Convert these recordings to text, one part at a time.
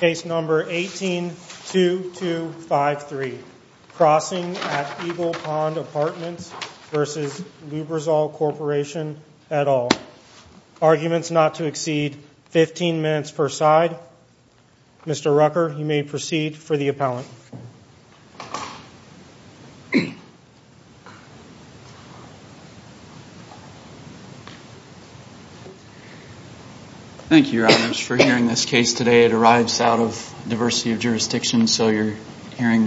Case No. 18-2253, Crossing at Eagle Pond Apartments v. Lubrizol Corporation et al. Arguments not to exceed 15 minutes per side. Mr. Rucker, you may proceed for the appellant. Thank you, Your Honors, for hearing this case today. It arrives out of a diversity of jurisdictions, so you're hearing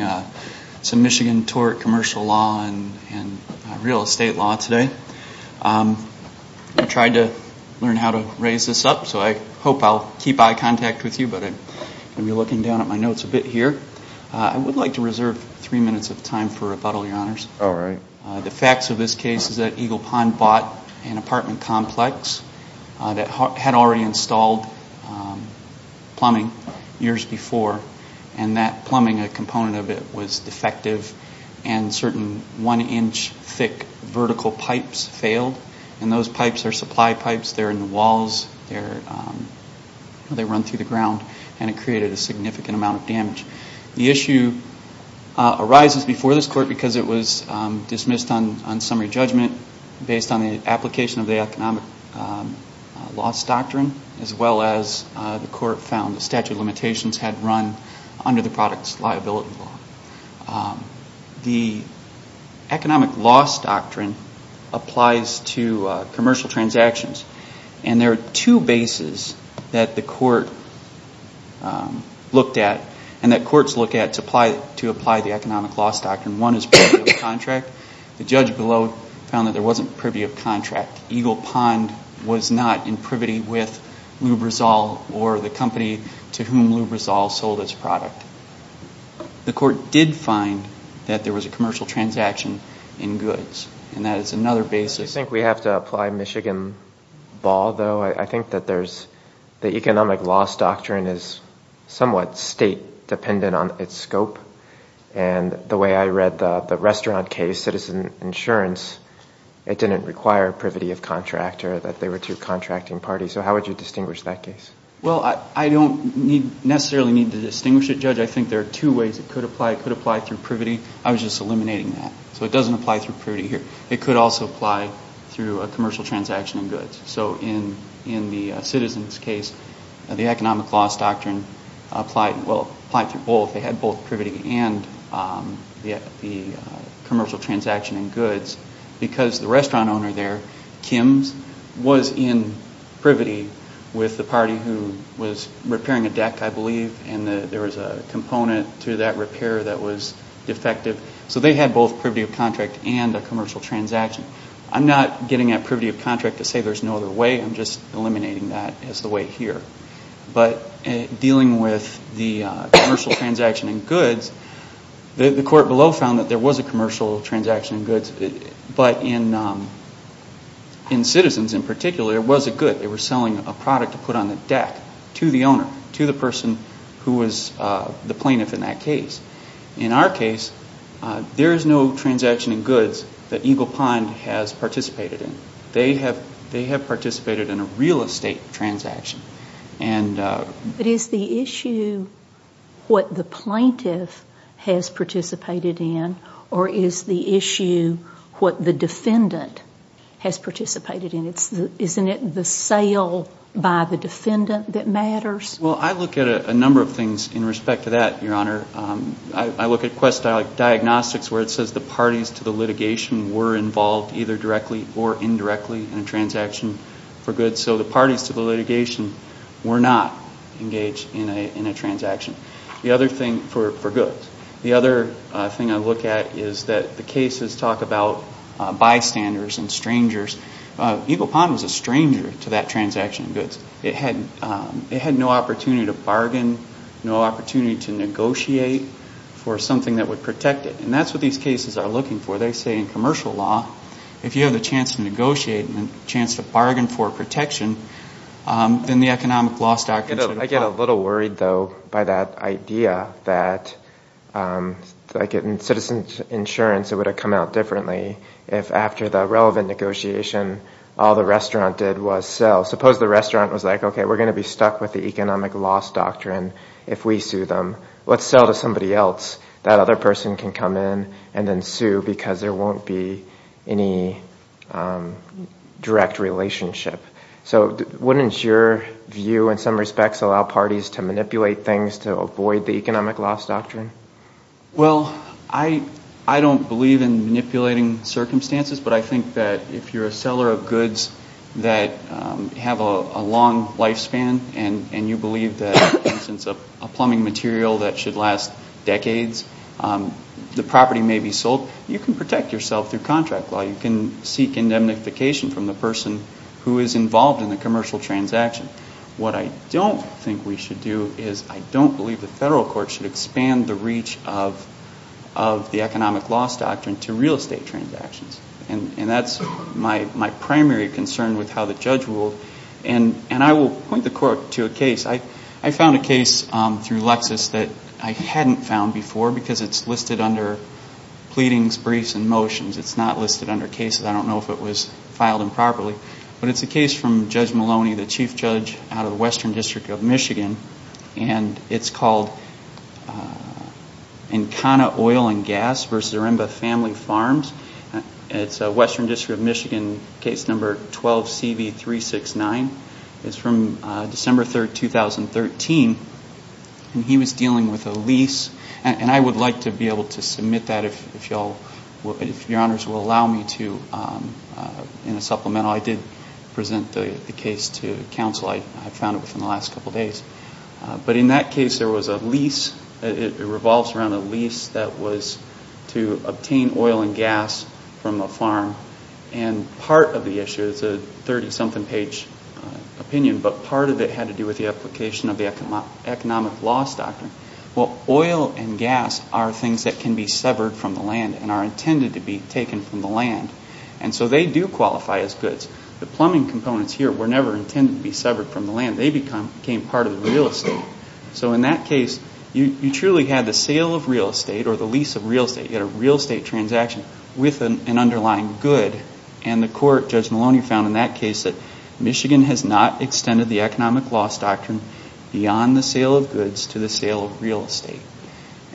some Michigan tort commercial law and real estate law today. I tried to learn how to raise this up, so I hope I'll keep eye contact with you, but I'm going to be looking down at my notes a bit here. I would like to reserve three minutes of time for rebuttal, Your Honors. The facts of this case is that Eagle Pond bought an apartment complex that had already installed plumbing years before. That plumbing, a component of it, was defective, and certain one-inch thick vertical pipes failed. Those pipes are supply pipes. They're in the walls. They run through the ground, and it created a significant amount of damage. The issue arises before this court because it was dismissed on summary judgment based on the application of the economic loss doctrine, as well as the court found the statute of limitations had run under the product's liability law. The economic loss doctrine applies to commercial transactions, and there are two bases that the court looked at and that courts look at to apply the economic loss doctrine. One is privy of contract. The judge below found that there wasn't privy of contract. Eagle Pond was not in privity with Lubrizol or the company to whom Lubrizol sold its product. The court did find that there was a commercial transaction in goods, and that is another basis. Do you think we have to apply Michigan ball, though? I think that the economic loss doctrine is somewhat state-dependent on its scope, and the way I read the restaurant case, Citizen Insurance, it didn't require privity of contractor, that they were two contracting parties. So how would you distinguish that case? Well, I don't necessarily need to distinguish it, Judge. I think there are two ways it could apply. It could apply through privity. I was just eliminating that, so it doesn't apply through privity here. It could also apply through a commercial transaction in goods. So in the Citizen's case, the economic loss doctrine applied through both. They had both privity and the commercial transaction in goods because the restaurant owner there, Kim's, was in privity with the party who was repairing a deck, I believe, and there was a component to that repair that was defective. So they had both privity of contract and a commercial transaction. I'm not getting at privity of contract to say there's no other way. I'm just eliminating that as the way here. But dealing with the commercial transaction in goods, the court below found that there was a commercial transaction in goods, but in Citizen's, in particular, it was a good. They were selling a product to put on the deck to the owner, to the person who was the plaintiff in that case. In our case, there is no transaction in goods that Eagle Pond has participated in. They have participated in a real estate transaction. But is the issue what the plaintiff has participated in, or is the issue what the defendant has participated in? Isn't it the sale by the defendant that matters? Well, I look at a number of things in respect to that, Your Honor. I look at quest diagnostics where it says the parties to the litigation were involved either directly or indirectly in a transaction for goods. So the parties to the litigation were not engaged in a transaction for goods. The other thing I look at is that the cases talk about bystanders and strangers. Eagle Pond was a stranger to that transaction in goods. It had no opportunity to bargain, no opportunity to negotiate for something that would protect it. And that's what these cases are looking for. They say in commercial law, if you have the chance to negotiate and the chance to bargain for protection, then the economic loss doctrine should apply. I get a little worried, though, by that idea that, like in Citizen's insurance, it would have come out differently if after the relevant negotiation, all the restaurant did was sell. Suppose the restaurant was like, okay, we're going to be stuck with the economic loss doctrine if we sue them. Let's sell to somebody else. That other person can come in and then sue because there won't be any direct relationship. So wouldn't your view in some respects allow parties to manipulate things to avoid the economic loss doctrine? Well, I don't believe in manipulating circumstances, but I think that if you're a seller of goods that have a long lifespan and you believe that, for instance, a plumbing material that should last decades, the property may be sold, you can protect yourself through contract law. You can seek indemnification from the person who is involved in the commercial transaction. What I don't think we should do is I don't believe the federal court should expand the reach of the economic loss doctrine to real estate transactions, and that's my primary concern with how the judge ruled. And I will point the court to a case. I found a case through Lexis that I hadn't found before because it's listed under pleadings, briefs, and motions. It's not listed under cases. I don't know if it was filed improperly, but it's a case from Judge Maloney, the chief judge out of the Western District of Michigan, and it's called Encana Oil and Gas versus Aremba Family Farms. It's Western District of Michigan, case number 12CV369. It's from December 3, 2013, and he was dealing with a lease, and I would like to be able to submit that if your honors will allow me to in a supplemental. I did present the case to counsel. I found it within the last couple of days. But in that case, there was a lease. It revolves around a lease that was to obtain oil and gas from a farm, and part of the issue is a 30-something page opinion, but part of it had to do with the application of the economic loss doctrine. Well, oil and gas are things that can be severed from the land and are intended to be taken from the land, and so they do qualify as goods. The plumbing components here were never intended to be severed from the land. They became part of the real estate. So in that case, you truly had the sale of real estate or the lease of real estate. You had a real estate transaction with an underlying good, and the court, Judge Maloney, found in that case that Michigan has not extended the economic loss doctrine beyond the sale of goods to the sale of real estate,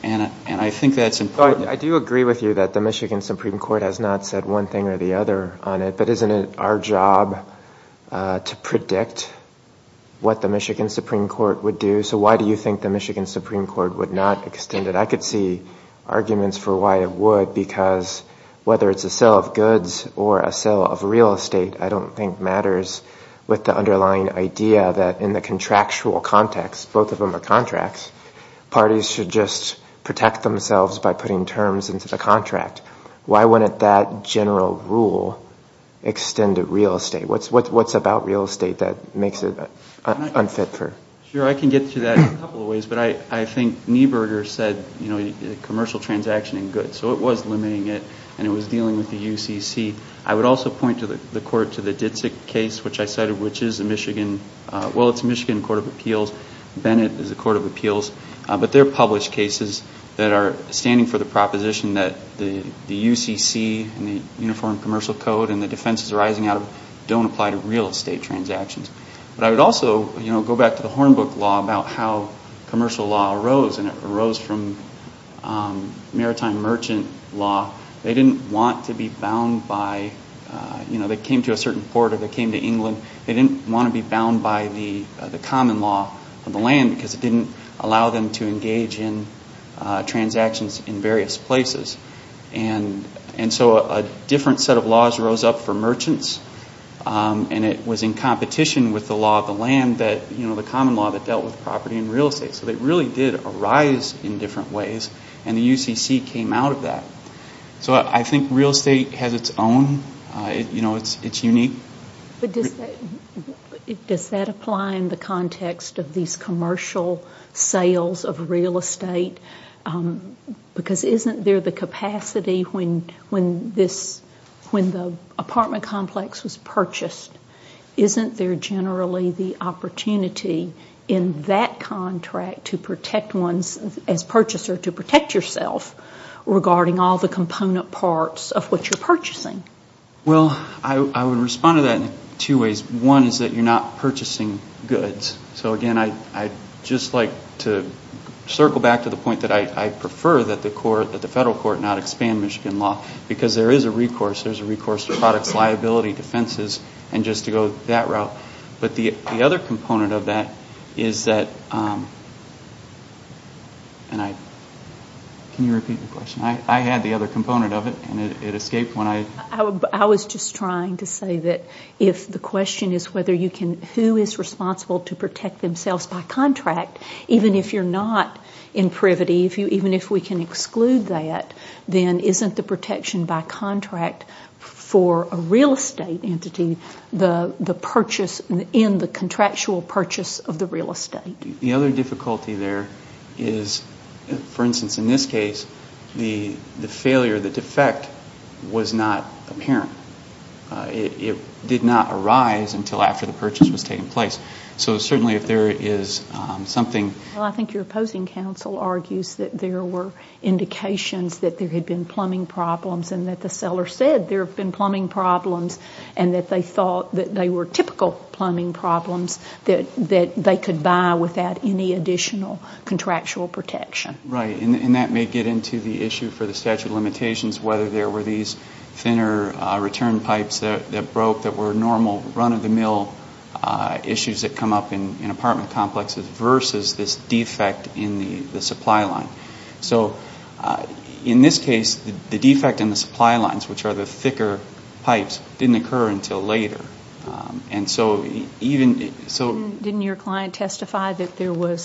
and I think that's important. I do agree with you that the Michigan Supreme Court has not said one thing or the other on it, but isn't it our job to predict what the Michigan Supreme Court would do? So why do you think the Michigan Supreme Court would not extend it? I could see arguments for why it would, because whether it's a sale of goods or a sale of real estate, I don't think matters with the underlying idea that in the contractual context, both of them are contracts, parties should just protect themselves by putting terms into the contract. Why wouldn't that general rule extend to real estate? What's about real estate that makes it unfit for? Sure, I can get to that in a couple of ways, but I think Nieburger said commercial transaction and goods, so it was limiting it, and it was dealing with the UCC. I would also point the court to the Ditzek case, which I cited, which is a Michigan court of appeals. Bennett is a court of appeals. But they're published cases that are standing for the proposition that the UCC and the Uniform Commercial Code and the defenses arising out of it don't apply to real estate transactions. But I would also go back to the Hornbook Law about how commercial law arose, and it arose from maritime merchant law. They didn't want to be bound by – they came to a certain port or they came to England. They didn't want to be bound by the common law of the land because it didn't allow them to engage in transactions in various places. And so a different set of laws rose up for merchants, and it was in competition with the law of the land, the common law that dealt with property and real estate. So they really did arise in different ways, and the UCC came out of that. So I think real estate has its own – it's unique. But does that apply in the context of these commercial sales of real estate? Because isn't there the capacity when this – when the apartment complex was purchased, isn't there generally the opportunity in that contract to protect one's – as purchaser, to protect yourself regarding all the component parts of what you're purchasing? Well, I would respond to that in two ways. One is that you're not purchasing goods. So, again, I'd just like to circle back to the point that I prefer that the federal court not expand Michigan law because there is a recourse. There's a recourse to products, liability, defenses, and just to go that route. But the other component of that is that – and I – can you repeat the question? I had the other component of it, and it escaped when I – I was just trying to say that if the question is whether you can – who is responsible to protect themselves by contract, even if you're not in privity, even if we can exclude that, then isn't the protection by contract for a real estate entity the purchase in the contractual purchase of the real estate? The other difficulty there is, for instance, in this case, the failure, the defect was not apparent. It did not arise until after the purchase was taking place. So certainly if there is something – Well, I think your opposing counsel argues that there were indications that there had been plumbing problems and that the seller said there had been plumbing problems and that they thought that they were typical plumbing problems that they could buy without any additional contractual protection. Right, and that may get into the issue for the statute of limitations, whether there were these thinner return pipes that broke that were normal run-of-the-mill issues that come up in apartment complexes versus this defect in the supply line. So in this case, the defect in the supply lines, which are the thicker pipes, didn't occur until later. And so even – Didn't your client testify that there were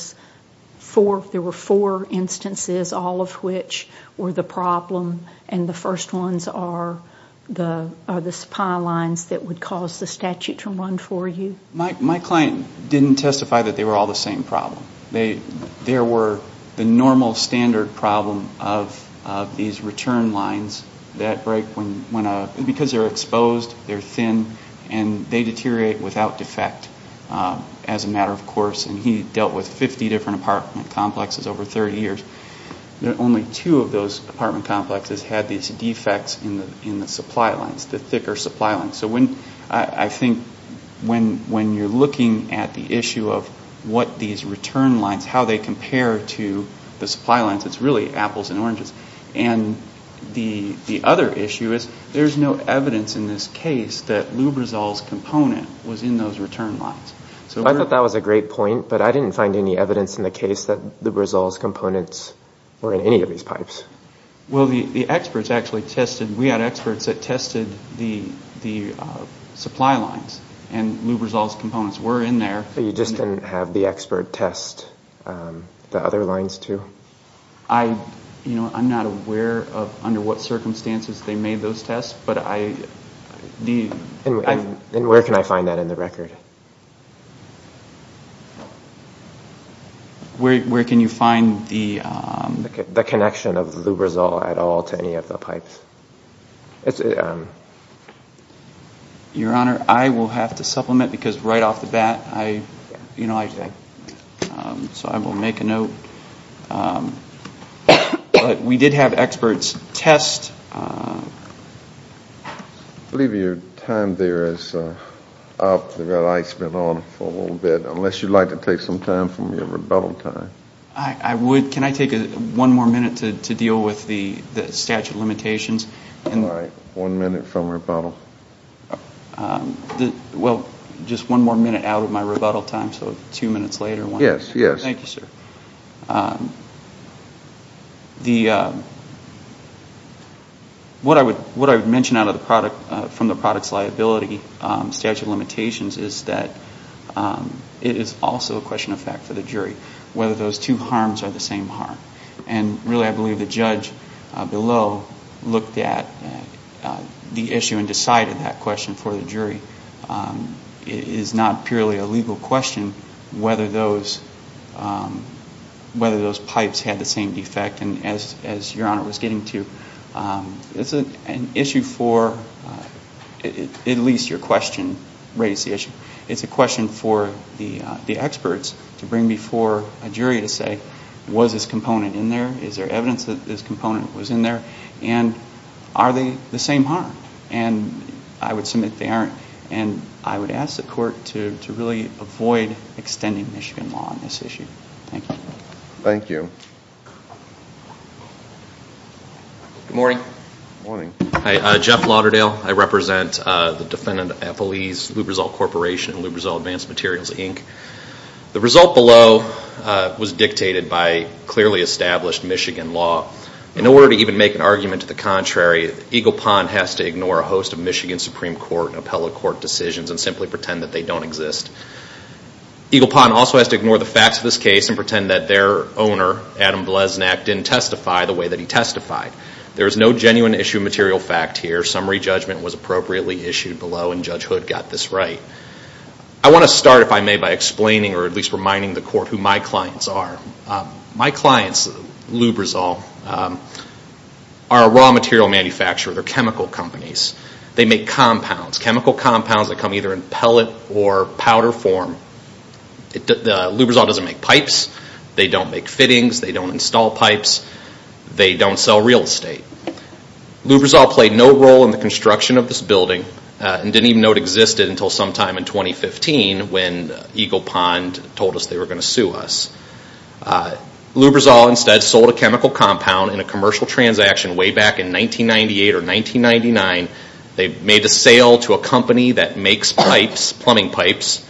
four instances, all of which were the problem, and the first ones are the supply lines that would cause the statute to run for you? My client didn't testify that they were all the same problem. There were the normal standard problem of these return lines that break when – because they're exposed, they're thin, and they deteriorate without defect as a matter of course. And he dealt with 50 different apartment complexes over 30 years. Only two of those apartment complexes had these defects in the supply lines, the thicker supply lines. So I think when you're looking at the issue of what these return lines, how they compare to the supply lines, it's really apples and oranges. And the other issue is there's no evidence in this case that Lubrizol's component was in those return lines. I thought that was a great point, but I didn't find any evidence in the case that Lubrizol's components were in any of these pipes. Well, the experts actually tested – we had experts that tested the supply lines, and Lubrizol's components were in there. You just didn't have the expert test the other lines, too? I'm not aware of under what circumstances they made those tests, but I – And where can I find that in the record? Where can you find the – the connection of the Lubrizol at all to any of the pipes? Your Honor, I will have to supplement because right off the bat I – so I will make a note. But we did have experts test – I believe your time there is up. You've got ice cream on for a little bit, unless you'd like to take some time from your rebuttal time. Can I take one more minute to deal with the statute of limitations? All right. One minute from rebuttal. Well, just one more minute out of my rebuttal time, so two minutes later. Yes, yes. Thank you, sir. What I would mention out of the product – from the product's liability statute of limitations is that it is also a question of fact for the jury whether those two harms are the same harm. And really I believe the judge below looked at the issue and decided that question for the jury. It is not purely a legal question whether those – whether those pipes had the same defect. And as your Honor was getting to, it's an issue for – at least your question raised the issue. It's a question for the experts to bring before a jury to say, was this component in there? Is there evidence that this component was in there? And are they the same harm? And I would submit they aren't. And I would ask the Court to really avoid extending Michigan law on this issue. Thank you. Good morning. Good morning. Hi, Jeff Lauderdale. I represent the defendant at Feliz Lubrizol Corporation and Lubrizol Advanced Materials, Inc. The result below was dictated by clearly established Michigan law. In order to even make an argument to the contrary, Eagle Pond has to ignore a host of Michigan Supreme Court and appellate court decisions and simply pretend that they don't exist. Eagle Pond also has to ignore the facts of this case and pretend that their owner, Adam Bleznak, didn't testify the way that he testified. There is no genuine issue of material fact here. Summary judgment was appropriately issued below and Judge Hood got this right. I want to start, if I may, by explaining or at least reminding the Court who my clients are. My clients, Lubrizol, are a raw material manufacturer. They're chemical companies. They make compounds, chemical compounds that come either in pellet or powder form. Lubrizol doesn't make pipes. They don't make fittings. They don't install pipes. They don't sell real estate. Lubrizol played no role in the construction of this building and didn't even know it existed until sometime in 2015 when Eagle Pond told us they were going to sue us. Lubrizol instead sold a chemical compound in a commercial transaction way back in 1998 or 1999. They made a sale to a company that makes pipes, plumbing pipes,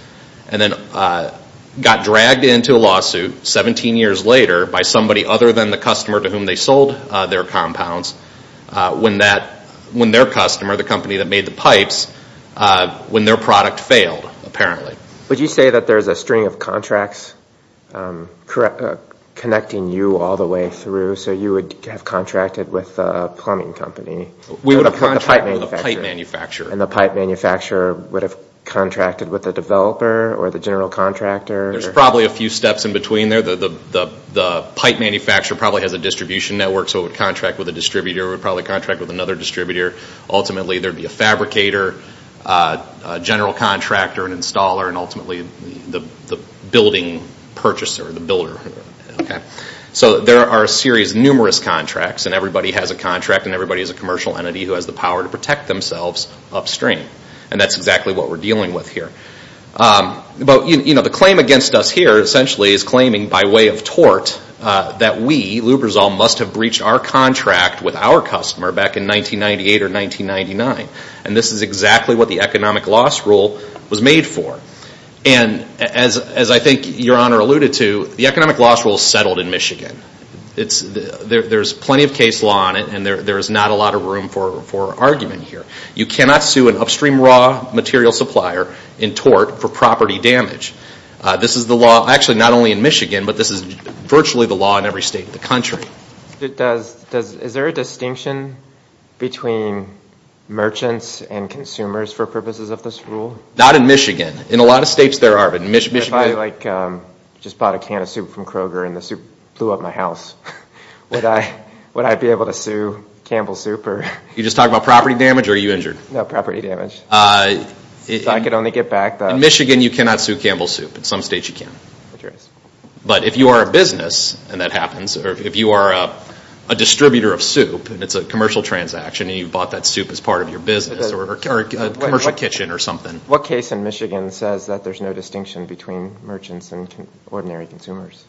and then got dragged into a lawsuit 17 years later by somebody other than the customer to whom they sold their compounds when their customer, the company that made the pipes, when their product failed apparently. Would you say that there's a string of contracts connecting you all the way through so you would have contracted with a plumbing company? We would have contracted with a pipe manufacturer. And the pipe manufacturer would have contracted with a developer or the general contractor? There's probably a few steps in between there. The pipe manufacturer probably has a distribution network so it would contract with a distributor. It would probably contract with another distributor. Ultimately there would be a fabricator, a general contractor, an installer, and ultimately the building purchaser, the builder. So there are a series of numerous contracts and everybody has a contract and everybody is a commercial entity who has the power to protect themselves upstream. And that's exactly what we're dealing with here. But the claim against us here essentially is claiming by way of tort that we, Lubrizol, must have breached our contract with our customer back in 1998 or 1999. And this is exactly what the economic loss rule was made for. And as I think your honor alluded to, the economic loss rule is settled in Michigan. There's plenty of case law on it and there's not a lot of room for argument here. You cannot sue an upstream raw material supplier in tort for property damage. This is the law, actually not only in Michigan, but this is virtually the law in every state of the country. Is there a distinction between merchants and consumers for purposes of this rule? Not in Michigan. In a lot of states there are. If I just bought a can of soup from Kroger and the soup blew up my house, would I be able to sue Campbell Soup? You're just talking about property damage or are you injured? No, property damage. In Michigan you cannot sue Campbell Soup. In some states you can. But if you are a business and that happens, or if you are a distributor of soup and it's a commercial transaction and you bought that soup as part of your business or a commercial kitchen or something. What case in Michigan says that there's no distinction between merchants and ordinary consumers?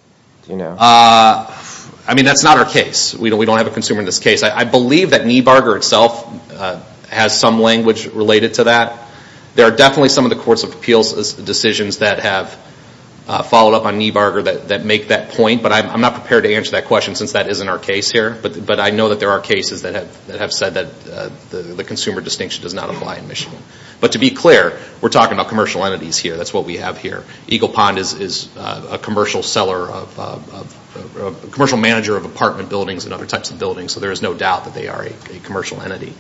That's not our case. We don't have a consumer in this case. I believe that Niebarger itself has some language related to that. There are definitely some of the courts of appeals decisions that have followed up on Niebarger that make that point, but I'm not prepared to answer that question since that isn't our case here. But I know that there are cases that have said that the consumer distinction does not apply in Michigan. But to be clear, we're talking about commercial entities here. That's what we have here. Eagle Pond is a commercial manager of apartment buildings and other types of buildings, so there is no doubt that they are a commercial entity.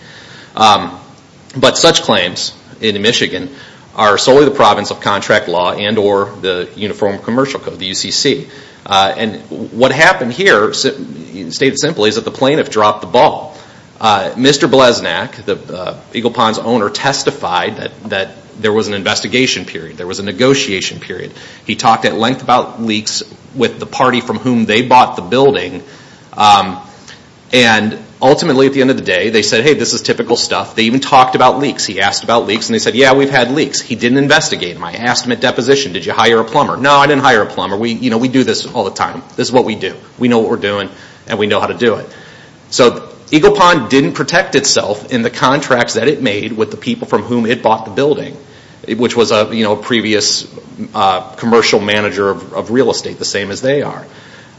But such claims in Michigan are solely the province of contract law and or the Uniform Commercial Code, the UCC. And what happened here, stated simply, is that the plaintiff dropped the ball. Mr. Bleznak, Eagle Pond's owner, testified that there was an investigation period. There was a negotiation period. He talked at length about leaks with the party from whom they bought the building. And ultimately, at the end of the day, they said, hey, this is typical stuff. They even talked about leaks. He asked about leaks, and they said, yeah, we've had leaks. He didn't investigate them. I asked him at deposition, did you hire a plumber? No, I didn't hire a plumber. We do this all the time. This is what we do. We know what we're doing, and we know how to do it. So Eagle Pond didn't protect itself in the contracts that it made with the people from whom it bought the building, which was a previous commercial manager of real estate, the same as they are.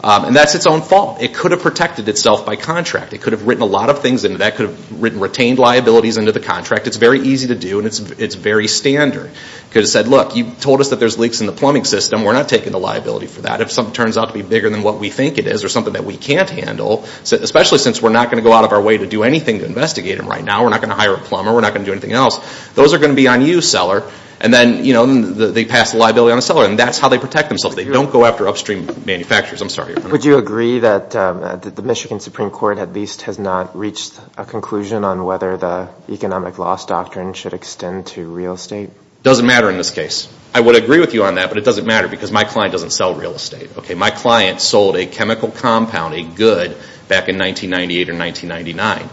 And that's its own fault. It could have protected itself by contract. It could have written a lot of things into that. It could have retained liabilities into the contract. It's very easy to do, and it's very standard. It could have said, look, you told us that there's leaks in the plumbing system. We're not taking the liability for that. If something turns out to be bigger than what we think it is or something that we can't handle, especially since we're not going to go out of our way to do anything to investigate them right now. We're not going to hire a plumber. We're not going to do anything else. Those are going to be on you, seller. And then they pass the liability on the seller, and that's how they protect themselves. They don't go after upstream manufacturers. I'm sorry. Would you agree that the Michigan Supreme Court at least has not reached a conclusion on whether the economic loss doctrine should extend to real estate? It doesn't matter in this case. I would agree with you on that, but it doesn't matter because my client doesn't sell real estate. My client sold a chemical compound, a good, back in 1998 or 1999.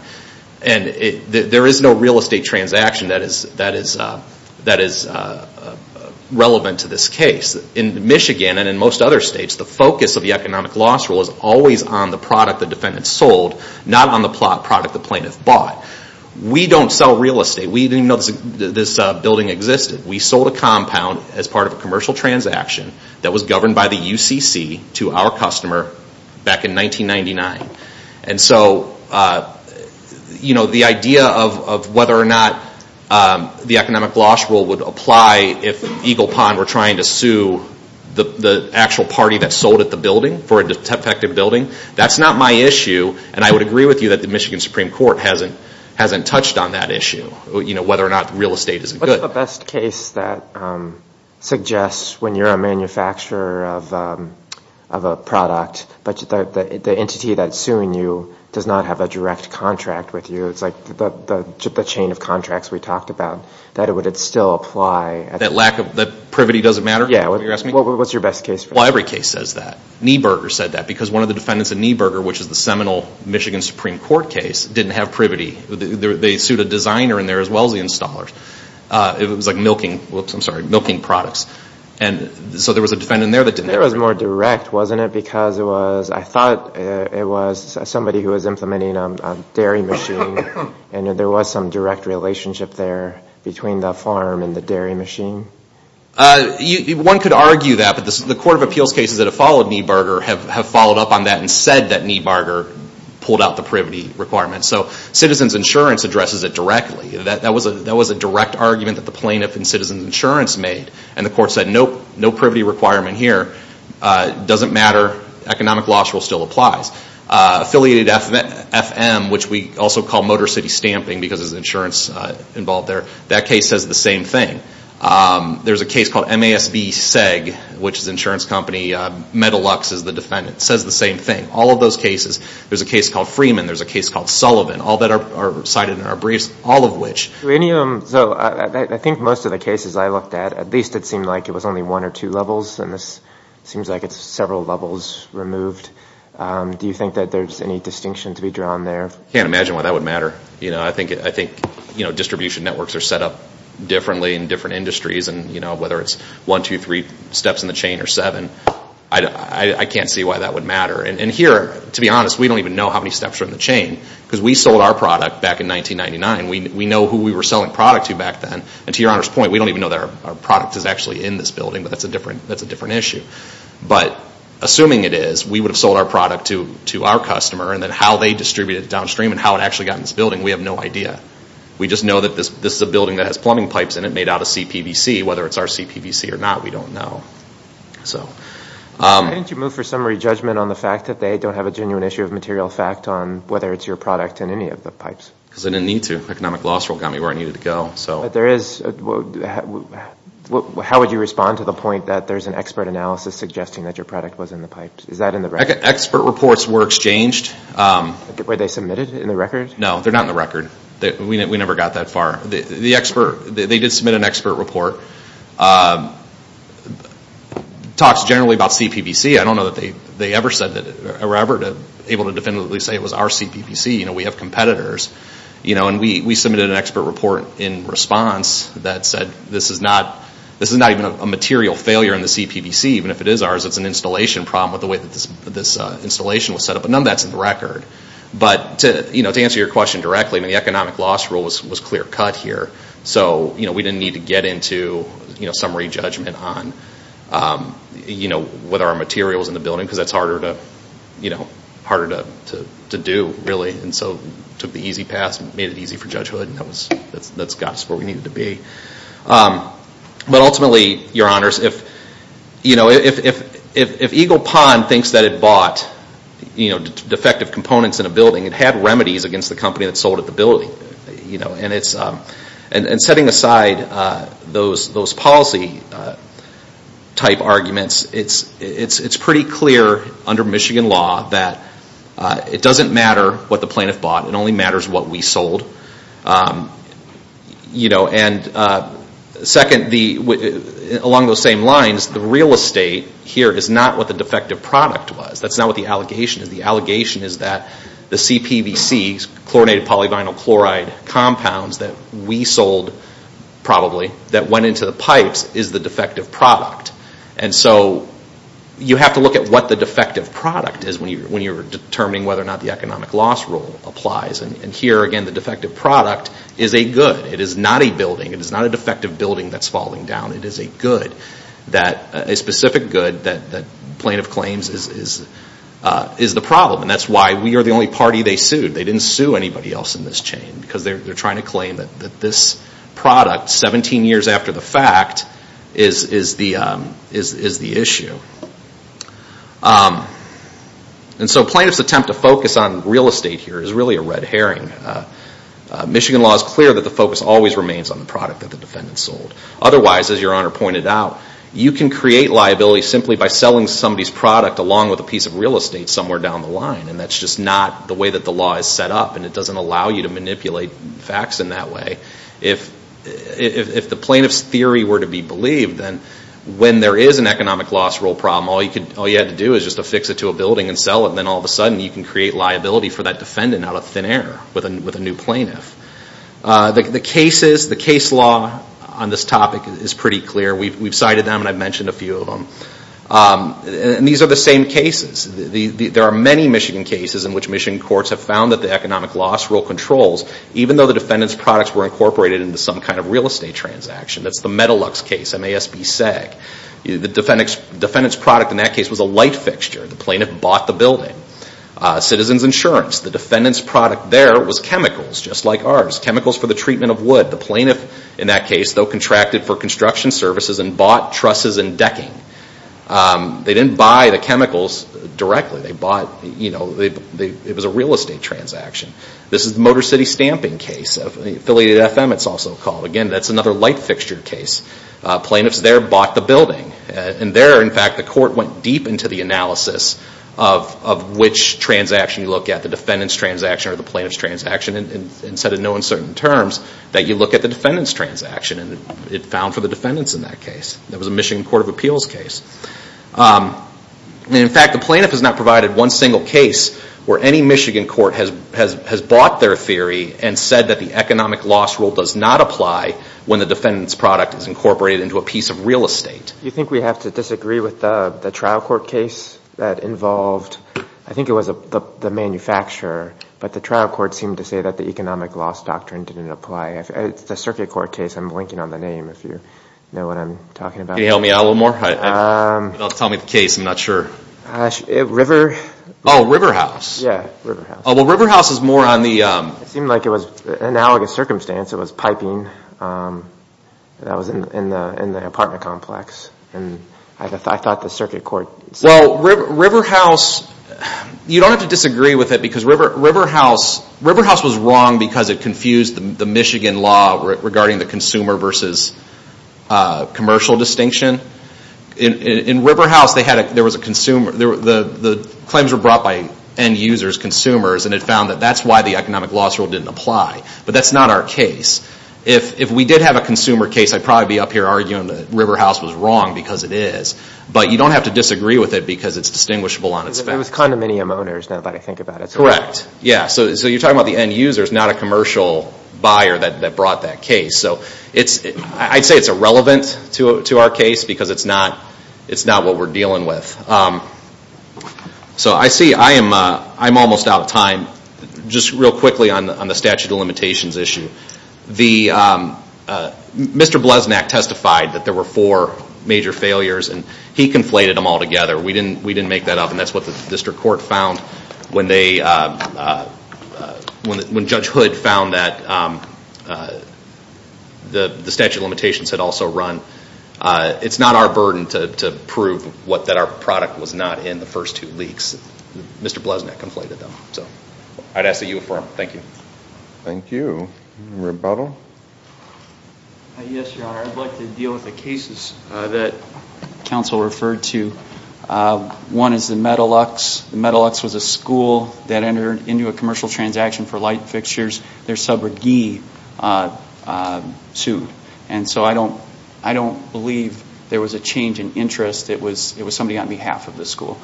And there is no real estate transaction that is relevant to this case. In Michigan and in most other states, the focus of the economic loss rule is always on the product the defendant sold, not on the product the plaintiff bought. We don't sell real estate. We didn't even know this building existed. We sold a compound as part of a commercial transaction that was governed by the UCC to our customer back in 1999. And so the idea of whether or not the economic loss rule would apply if Eagle Pond were trying to sue the actual party that sold at the building for a defective building, that's not my issue. And I would agree with you that the Michigan Supreme Court hasn't touched on that issue, whether or not real estate is good. What's the best case that suggests when you're a manufacturer of a product, but the entity that's suing you does not have a direct contract with you, it's like the chain of contracts we talked about, that it would still apply? That lack of, that privity doesn't matter? Yeah. What's your best case for that? Well, every case says that. Nieberger said that because one of the defendants in Nieberger, which is the seminal Michigan Supreme Court case, didn't have privity. They sued a designer in there as well as the installers. It was like milking, whoops, I'm sorry, milking products. And so there was a defendant in there that didn't have privity. That was more direct, wasn't it? Because it was, I thought it was somebody who was implementing a dairy machine and there was some direct relationship there between the farm and the dairy machine. One could argue that, but the Court of Appeals cases that have followed Nieberger have followed up on that and said that Nieberger pulled out the privity requirement. So Citizens Insurance addresses it directly. That was a direct argument that the plaintiff in Citizens Insurance made. And the court said, nope, no privity requirement here. Doesn't matter, economic law still applies. Affiliated FM, which we also call Motor City Stamping because there's insurance involved there, that case says the same thing. There's a case called MASB-SEG, which is an insurance company, Metalux is the defendant, says the same thing. All of those cases, there's a case called Freeman, there's a case called Sullivan, all that are cited in our briefs, all of which. So I think most of the cases I looked at, at least it seemed like it was only one or two levels and this seems like it's several levels removed. Do you think that there's any distinction to be drawn there? I can't imagine why that would matter. I think distribution networks are set up differently in different industries and whether it's one, two, three steps in the chain or seven, I can't see why that would matter. And here, to be honest, we don't even know how many steps are in the chain because we sold our product back in 1999. We know who we were selling product to back then and to your Honor's point, we don't even know that our product is actually in this building, but that's a different issue. But assuming it is, we would have sold our product to our customer and then how they distributed it downstream and how it actually got in this building, we have no idea. We just know that this is a building that has plumbing pipes in it made out of CPVC. Whether it's our CPVC or not, we don't know. Why didn't you move for summary judgment on the fact that they don't have a genuine issue of material fact on whether it's your product in any of the pipes? Because I didn't need to. Economic loss rule got me where I needed to go. How would you respond to the point that there's an expert analysis suggesting that your product was in the pipes? Is that in the record? Expert reports were exchanged. Were they submitted in the record? No, they're not in the record. We never got that far. They did submit an expert report. It talks generally about CPVC. I don't know that they ever said that or were ever able to definitively say it was our CPVC. We have competitors. We submitted an expert report in response that said this is not even a material failure in the CPVC. Even if it is ours, it's an installation problem with the way that this installation was set up. But none of that's in the record. To answer your question directly, the economic loss rule was clear cut here. We didn't need to get into summary judgment on whether our material was in the building because that's harder to do really. So we took the easy path and made it easy for Judge Hood. That got us where we needed to be. But ultimately, your honors, if Eagle Pond thinks that it bought defective components in a building, it had remedies against the company that sold it the building. Setting aside those policy type arguments, it's pretty clear under Michigan law that it doesn't matter what the plaintiff bought. It only matters what we sold. Second, along those same lines, the real estate here is not what the defective product was. That's not what the allegation is. The allegation is that the CPVC, chlorinated polyvinyl chloride compounds that we sold, probably, that went into the pipes is the defective product. And so you have to look at what the defective product is when you're determining whether or not the economic loss rule applies. And here, again, the defective product is a good. It is not a building. It is not a defective building that's falling down. It is a good, a specific good that plaintiff claims is the problem. And that's why we are the only party they sued. They didn't sue anybody else in this chain because they're trying to claim that this product, 17 years after the fact, is the issue. And so plaintiff's attempt to focus on real estate here is really a red herring. Michigan law is clear that the focus always remains on the product that the defendant sold. Otherwise, as Your Honor pointed out, you can create liability simply by selling somebody's product along with a piece of real estate somewhere down the line. And that's just not the way that the law is set up, and it doesn't allow you to manipulate facts in that way. If the plaintiff's theory were to be believed, then when there is an economic loss rule problem, all you have to do is just affix it to a building and sell it, and then all of a sudden you can create liability for that defendant out of thin air with a new plaintiff. The case law on this topic is pretty clear. We've cited them, and I've mentioned a few of them. And these are the same cases. There are many Michigan cases in which Michigan courts have found that the economic loss rule controls, even though the defendant's products were incorporated into some kind of real estate transaction. That's the Metalux case, M-A-S-B-S-A-G. The defendant's product in that case was a light fixture. The plaintiff bought the building. Citizens Insurance, the defendant's product there was chemicals just like ours, chemicals for the treatment of wood. The plaintiff in that case, though, contracted for construction services and bought trusses and decking. They didn't buy the chemicals directly. It was a real estate transaction. This is the Motor City Stamping case, Affiliated FM it's also called. Again, that's another light fixture case. Plaintiffs there bought the building. And there, in fact, the court went deep into the analysis of which transaction you look at, the defendant's transaction or the plaintiff's transaction, and said in no uncertain terms that you look at the defendant's transaction. And it found for the defendants in that case. That was a Michigan Court of Appeals case. In fact, the plaintiff has not provided one single case where any Michigan court has bought their theory and said that the economic loss rule does not apply when the defendant's product is incorporated into a piece of real estate. Do you think we have to disagree with the trial court case that involved, I think it was the manufacturer, but the trial court seemed to say that the economic loss doctrine didn't apply. The circuit court case, I'm linking on the name if you know what I'm talking about. Can you help me out a little more? Tell me the case, I'm not sure. River. Oh, Riverhouse. Yeah, Riverhouse. Well, Riverhouse is more on the... It seemed like it was analogous circumstance. It was piping that was in the apartment complex. And I thought the circuit court... Well, Riverhouse, you don't have to disagree with it because Riverhouse was wrong because it confused the Michigan law regarding the consumer versus commercial distinction. In Riverhouse, the claims were brought by end users, consumers, and it found that that's why the economic loss rule didn't apply. But that's not our case. If we did have a consumer case, I'd probably be up here arguing that Riverhouse was wrong because it is. But you don't have to disagree with it because it's distinguishable on its face. It was condominium owners, now that I think about it. Correct. Yeah, so you're talking about the end users, not a commercial buyer that brought that case. I'd say it's irrelevant to our case because it's not what we're dealing with. So I see I'm almost out of time. Just real quickly on the statute of limitations issue. Mr. Blesnack testified that there were four major failures, and he conflated them all together. We didn't make that up, and that's what the district court found when Judge Hood found that the statute of limitations had also run. It's not our burden to prove that our product was not in the first two leaks. Mr. Blesnack conflated them. I'd ask that you affirm. Thank you. Thank you. Rebuttal? Yes, Your Honor. I'd like to deal with the cases that counsel referred to. One is the Metalux. The Metalux was a school that entered into a commercial transaction for light fixtures. Their subrogee sued, and so I don't believe there was a change in interest. It was somebody on behalf of the school.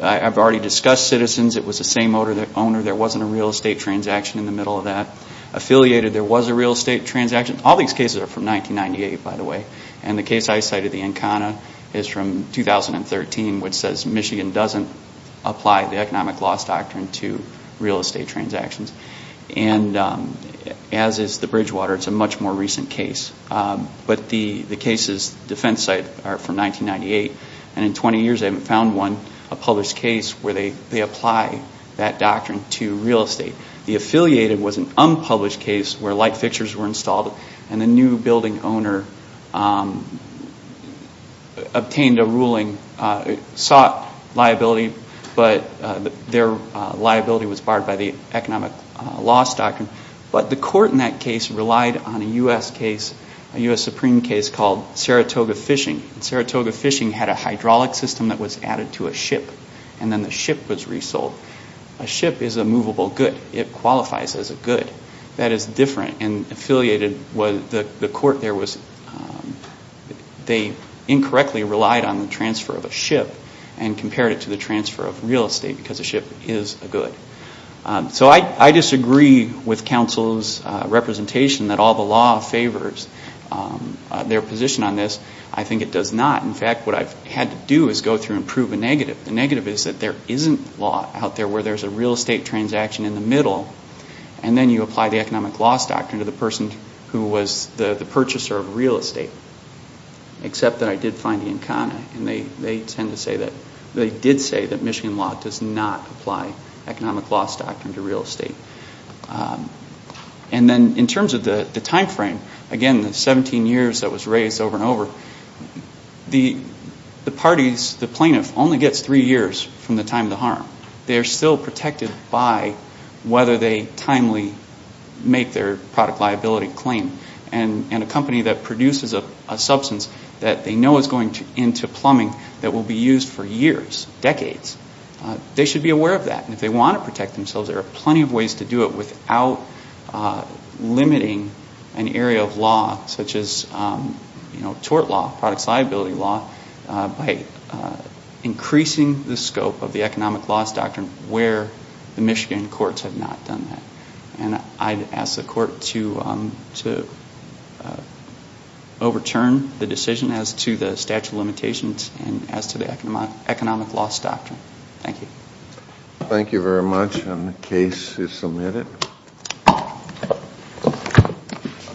I've already discussed Citizens. It was the same owner. There wasn't a real estate transaction in the middle of that. Affiliated, there was a real estate transaction. All these cases are from 1998, by the way. The case I cited, the Encana, is from 2013, which says Michigan doesn't apply the economic loss doctrine to real estate transactions. As is the Bridgewater. It's a much more recent case. But the case's defense site are from 1998, and in 20 years they haven't found one, a published case, where they apply that doctrine to real estate. The Affiliated was an unpublished case where light fixtures were installed, and the new building owner obtained a ruling. It sought liability, but their liability was barred by the economic loss doctrine. But the court in that case relied on a U.S. Supreme case called Saratoga Fishing. Saratoga Fishing had a hydraulic system that was added to a ship, and then the ship was resold. A ship is a movable good. It qualifies as a good. That is different. And Affiliated was, the court there was, they incorrectly relied on the transfer of a ship and compared it to the transfer of real estate because a ship is a good. So I disagree with counsel's representation that all the law favors their position on this. I think it does not. In fact, what I've had to do is go through and prove a negative. The negative is that there isn't law out there where there's a real estate transaction in the middle, and then you apply the economic loss doctrine to the person who was the purchaser of real estate. Except that I did find the Encana, and they did say that Michigan law does not apply economic loss doctrine to real estate. And then in terms of the timeframe, again, the 17 years that was raised over and over, the parties, the plaintiff, only gets three years from the time of the harm. They are still protected by whether they timely make their product liability claim. And a company that produces a substance that they know is going into plumbing that will be used for years, decades, they should be aware of that. And if they want to protect themselves, there are plenty of ways to do it without limiting an area of law such as tort law, by increasing the scope of the economic loss doctrine where the Michigan courts have not done that. And I'd ask the court to overturn the decision as to the statute of limitations and as to the economic loss doctrine. Thank you. Thank you very much. And the case is submitted.